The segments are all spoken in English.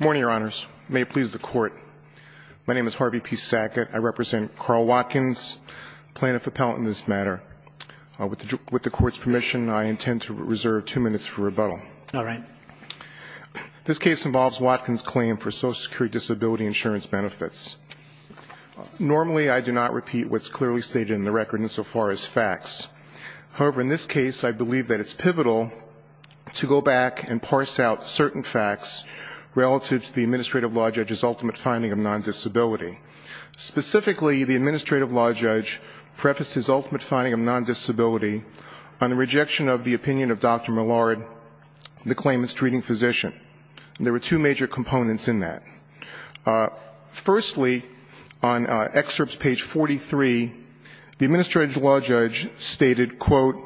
Good morning, your honors. May it please the court. My name is Harvey P. Sackett. I represent Carl Watkins, plaintiff-appellant in this matter. With the court's permission, I intend to reserve two minutes for rebuttal. All right. This case involves Watkins' claim for Social Security Disability Insurance benefits. Normally, I do not repeat what's clearly stated in the record insofar as facts. However, in this case, I believe that it's pivotal to go back and parse out certain facts relative to the administrative law judge's ultimate finding of non-disability. Specifically, the administrative law judge prefaced his ultimate finding of non-disability on the rejection of the opinion of Dr. Millard, the claimant's treating physician. There were two major components in that. Firstly, on excerpts page 43, the administrative law judge stated, quote,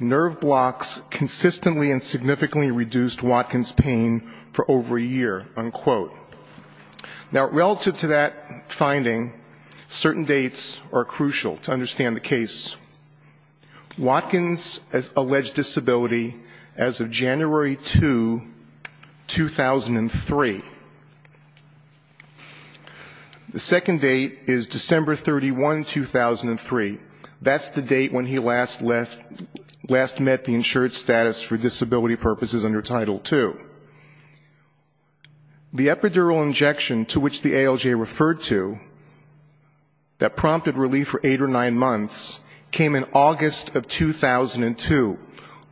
nerve blocks consistently and significantly reduced Watkins' pain for over a year, unquote. Now, relative to that finding, certain dates are crucial to understand the case. Watkins alleged disability as of January 2, 2003. The second date is December 31, 2003. That's the date when he last met the insured status for disability purposes under Title II. The epidural injection to which the ALJ referred to that prompted relief for eight or nine months came in August of 2002,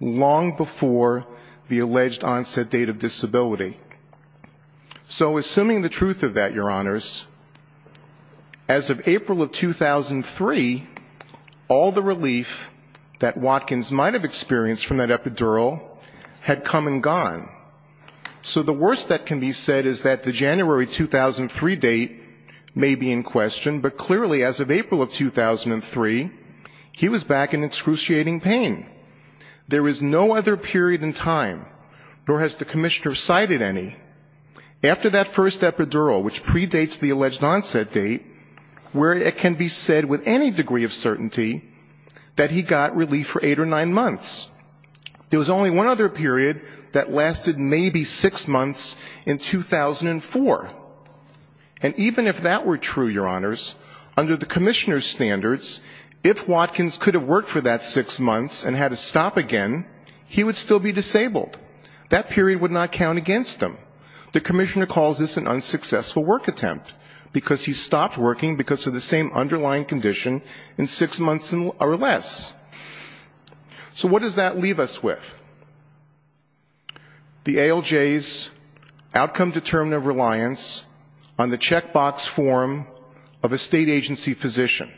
long before the alleged onset date of disability. So assuming the truth of that, Your Honors, as of April of 2003, all the relief that Watkins might have experienced from that epidural had come and gone. So the worst that can be said is that the January 2003 date may be in question, but clearly as of April of 2003, he was back in excruciating pain. There is no other period in time, nor has the commissioner cited any, after that first epidural, which predates the alleged onset date, where it can be said with any degree of certainty that he got relief for eight or nine months. There was only one other period that lasted maybe six months in 2004. And even if that were true, Your Honors, under the commissioner's standards, if Watkins could have worked for that six months and had to stop again, he would still be disabled. That period would not count against him. The commissioner calls this an unsuccessful work attempt, because he stopped working because of the same underlying condition in six months or less. So what does that leave us with? The ALJ's outcome-determinative reliance on the checkbox form of a state agency physician.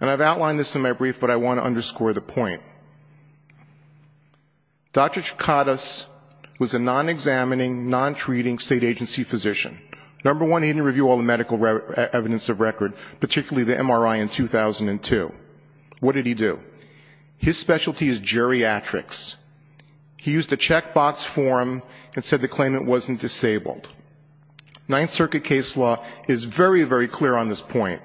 And I've outlined this in my brief, but I want to underscore the point. Dr. Chikatis was a non-examining, non-treating state agency physician. Number one, he didn't review all the medical evidence of record, particularly the MRI in 2002. What did he do? His specialty is geriatrics. He used a checkbox form and said the claimant wasn't disabled. Ninth Circuit case law is very, very clear on this point,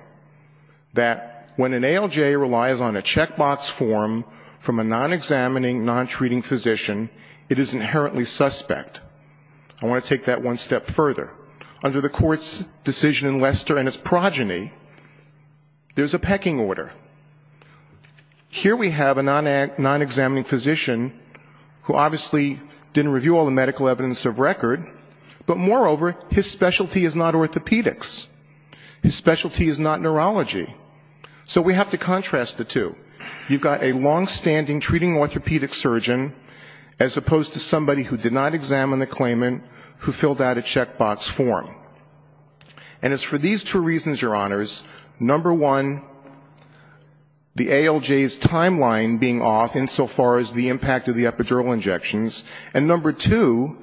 that when an ALJ relies on a checkbox form from a non-examining, non-treating physician, it is inherently suspect. I want to take that one step further. Under the court's decision in Lester and its progeny, there's a pecking order. Here we have a non-examining physician who obviously didn't review all the medical evidence of record, but moreover, his specialty is not orthopedics. His specialty is not neurology. So we have to contrast the two. You've got a long-standing treating orthopedic surgeon, as opposed to somebody who did not examine the checkbox form. And it's for these two reasons, Your Honors. Number one, the ALJ's timeline being off insofar as the impact of the epidural injections, and number two,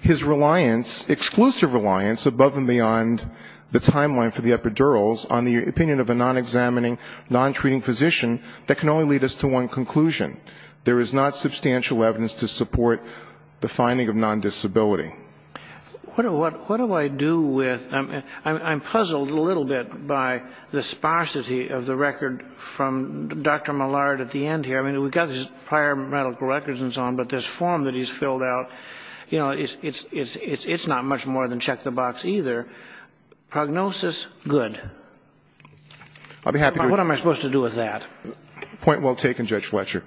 his reliance, exclusive reliance above and beyond the timeline for the epidurals on the opinion of a non-examining, non-treating physician that can only lead us to one conclusion. There is not substantial evidence to support the finding of non-disability. What do I do with — I'm puzzled a little bit by the sparsity of the record from Dr. Mallard at the end here. I mean, we've got his prior medical records and so on, but this form that he's filled out, you know, it's not much more than check-the-box either. Prognosis, good. What am I supposed to do with that? Point well taken, Judge Fletcher.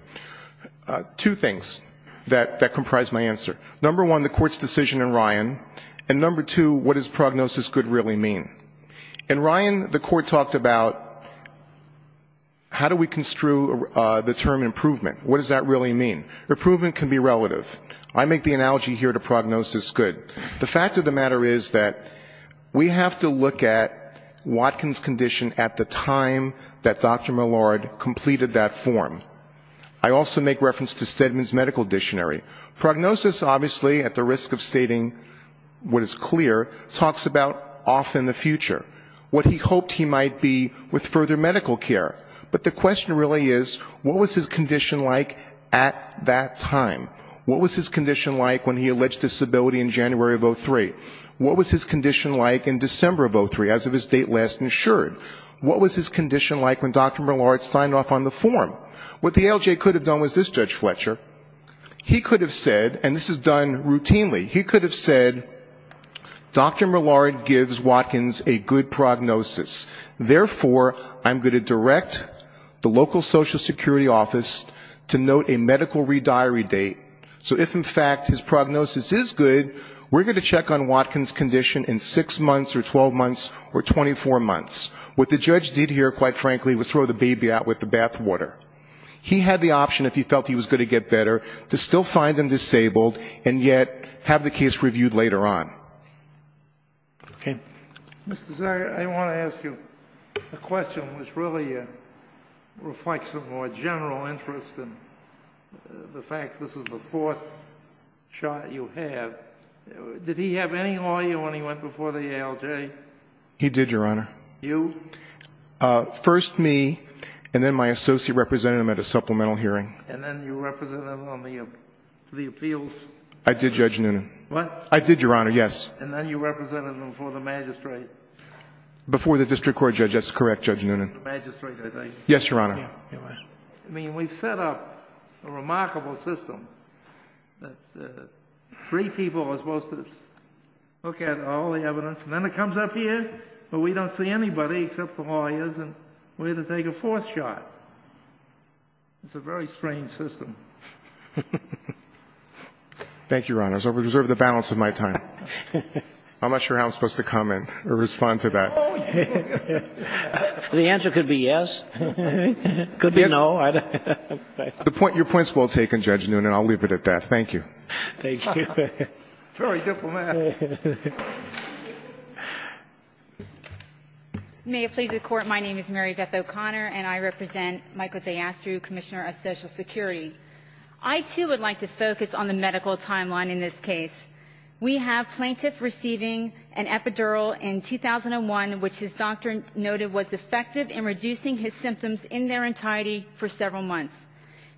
Two things that comprise my answer. Number one, the Court's decision in Ryan, and number two, what does prognosis, good, really mean? In Ryan, the Court talked about how do we construe the term improvement? What does that really mean? Improvement can be relative. I make the analogy here to prognosis, good. The fact of the matter is that we have to look at Watkins' condition at the time that Dr. Mallard called it. I also make reference to Stedman's medical dictionary. Prognosis, obviously, at the risk of stating what is clear, talks about off in the future, what he hoped he might be with further medical care. But the question really is, what was his condition like at that time? What was his condition like when he alleged disability in January of 2003? What was his condition like in December of 2003, as of his date last insured? What was his condition like when Dr. Mallard signed off on the form? What the ALJ could have done was this, Judge Fletcher, he could have said, and this is done routinely, he could have said, Dr. Mallard gives Watkins a good prognosis. Therefore, I'm going to direct the local Social Security office to note a medical rediary date. So if, in fact, his prognosis is good, we're going to check on Watkins' condition in six months or 12 months or 24 months. What the judge did here, quite frankly, was throw the baby out with the bathwater. He had the option, if he felt he was going to get better, to still find him disabled and yet have the case reviewed later on. Okay. Mr. Zagar, I want to ask you a question which really reflects a more general interest in the fact this is the fourth shot you have. Did he have any lawyer when he went before the ALJ? He did, Your Honor. You? First me, and then my associate representative at a supplemental hearing. And then you represented him on the appeals? I did, Judge Noonan. What? I did, Your Honor, yes. And then you represented him before the magistrate? Before the district court, Judge. That's correct, Judge Noonan. Yes, Your Honor. I mean, we've set up a remarkable system that three people are supposed to look at all the evidence, and then it comes up here where we don't see anybody except the lawyers, and we're going to take a fourth shot. It's a very strange system. Thank you, Your Honor. I reserve the balance of my time. I'm not sure how I'm supposed to comment or respond to that. The answer could be yes, could be no. Your point's well taken, Judge Noonan. I'll leave it at that. Thank you. Thank you. May it please the Court, my name is Mary Beth O'Connor, and I represent Michael D'Astro, Commissioner of Social Security. I, too, would like to focus on the medical timeline in this case. We have plaintiff receiving an epidural in 2001, which his doctor noted was effective in reducing his symptoms in their entirety for several months.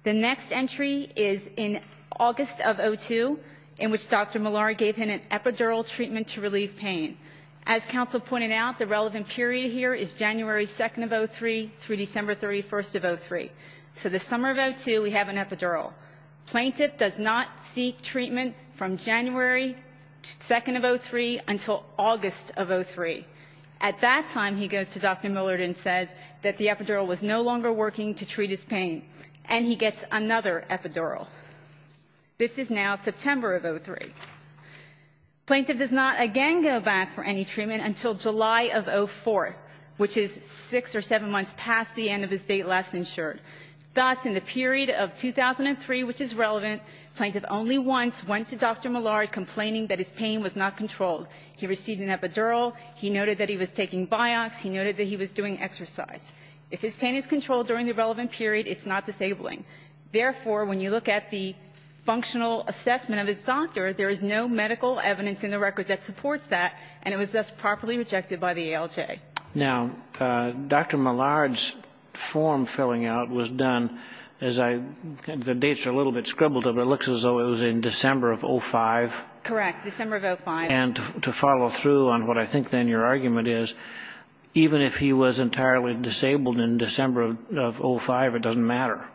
The next entry is in August of 2002, in which Dr. Malari gave him an epidural treatment to relieve pain. As counsel pointed out, the relevant period here is January 2nd of 2003 through December 31st of 2003. So the summer of 2002, we have an epidural. He goes from January 2nd of 2003 until August of 2003. At that time, he goes to Dr. Millard and says that the epidural was no longer working to treat his pain, and he gets another epidural. This is now September of 2003. Plaintiff does not again go back for any treatment until July of 2004, which is six or seven months past the end of his date last insured. Thus, in the period of 2003, which is relevant, plaintiff only once went to Dr. Millard complaining that his pain was not controlled. He received an epidural. He noted that he was taking Biox. He noted that he was doing exercise. If his pain is controlled during the relevant period, it's not disabling. Therefore, when you look at the functional assessment of his doctor, there is no medical evidence in the record that supports that, and it was thus properly rejected by the ALJ. Now, Dr. Millard's form filling out was done as I the dates are a little bit scribbled up. It looks as though it was in December of 2005. Correct. December of 2005. And to follow through on what I think then your argument is, even if he was entirely disabled in December of 2005, it doesn't matter.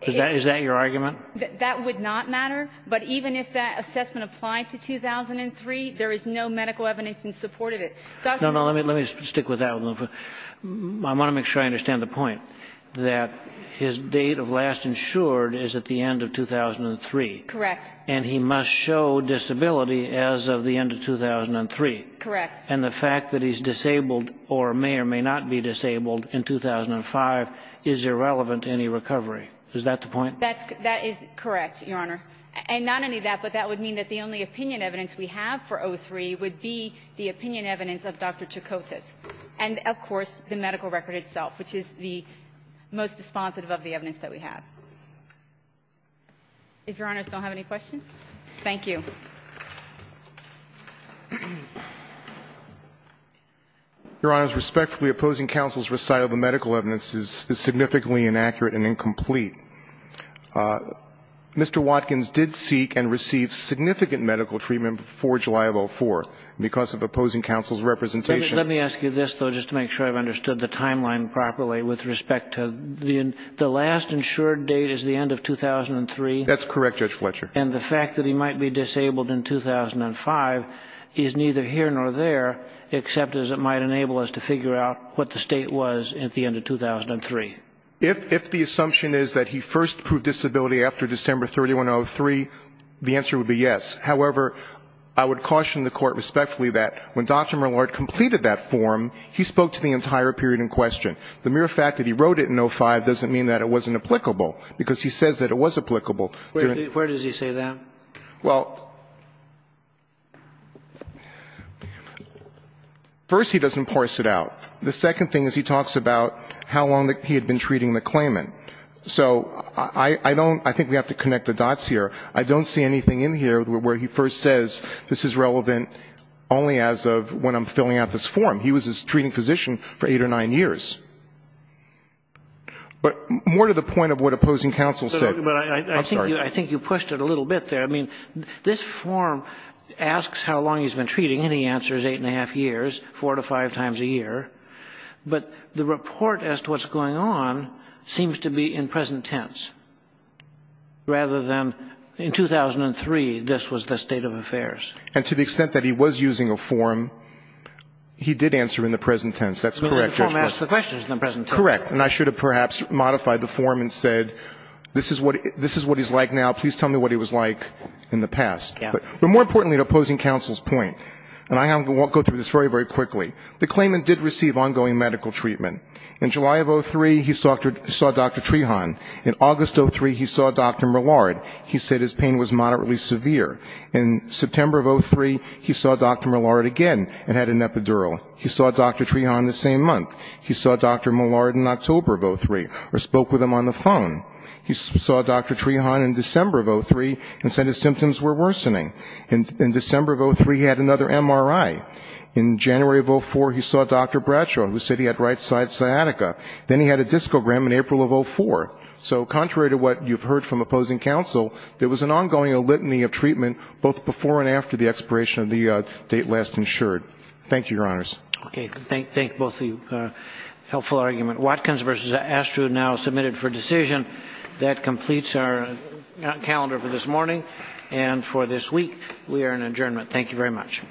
Is that your argument? That would not matter, but even if that assessment applied to 2003, there is no medical evidence in support of it. No, no, let me stick with that. I want to make sure I understand the point that his date of last insured is at the end of 2003. Correct. And he must show disability as of the end of 2003. Correct. And the fact that he's disabled or may or may not be disabled in 2005 is irrelevant to any recovery. Is that the point? That is correct, Your Honor. And not only that, but that would mean that the only opinion evidence we have for 03 would be the opinion evidence of Dr. Chakotis and, of course, the medical record itself, which is the most responsive of the evidence that we have. If Your Honors don't have any questions. Thank you. Your Honors, respectfully, opposing counsel's recital of the medical evidence is significantly inaccurate and incomplete. Mr. Watkins did seek and receive significant medical treatment before July of 2004 because of opposing counsel's representation. Let me ask you this, though, just to make sure I've understood the timeline properly with respect to the last insured date is the end of 2003. That's correct, Judge Fletcher. And the fact that he might be disabled in 2005 is neither here nor there, except as it might enable us to figure out what the state was at the end of 2003. If the assumption is that he first proved disability after December 3103, the answer would be yes. However, I would caution the Court respectfully that when Dr. Millard completed that form, he spoke to the entire period in question. The mere fact that he wrote it in 2005 doesn't mean that it wasn't applicable, because he says that it was applicable. Where does he say that? Well, first, he doesn't parse it out. The second thing is he talks about how long he had been treating the claimant. So I don't think we have to connect the dots here. I don't see anything in here where he first says this is relevant only as of when I'm filling out this form. He was his treating physician for eight or nine years. But more to the point of what opposing counsel said. I'm sorry. I think you pushed it a little bit there. I mean, this form asks how long he's been treating, and the answer is eight and a half years, four to five times a year. But the report as to what's going on seems to be in present tense, rather than in 2003 this was the state of affairs. And to the extent that he was using a form, he did answer in the present tense. That's correct. The form asks the questions in the present tense. Correct. And I should have perhaps modified the form and said this is what he's like now. Please tell me what he was like in the past. But more importantly, to opposing counsel's point, and I won't go through this very, very quickly. The claimant did receive ongoing medical treatment. In July of 2003, he saw Dr. Trehon. In August of 2003, he saw Dr. Millard. He said his pain was moderately severe. In September of 2003, he saw Dr. Millard again and had an epidural. He saw Dr. Trehon the same month. He saw Dr. Millard in October of 2003, or spoke with him on the phone. He saw Dr. Trehon in December of 2003 and said his symptoms were worsening. In December of 2003, he had another MRI. In January of 2004, he saw Dr. Bradshaw, who said he had right-side sciatica. Then he had a discogram in April of 2004. So contrary to what you've heard from opposing counsel, there was an ongoing litany of treatment both before and after the expiration of the date last insured. Thank you, Your Honors. Okay. Thank both of you. Helpful argument. Watkins v. Astrud now submitted for decision. That completes our calendar for this morning and for this week. We are in adjournment. Thank you very much.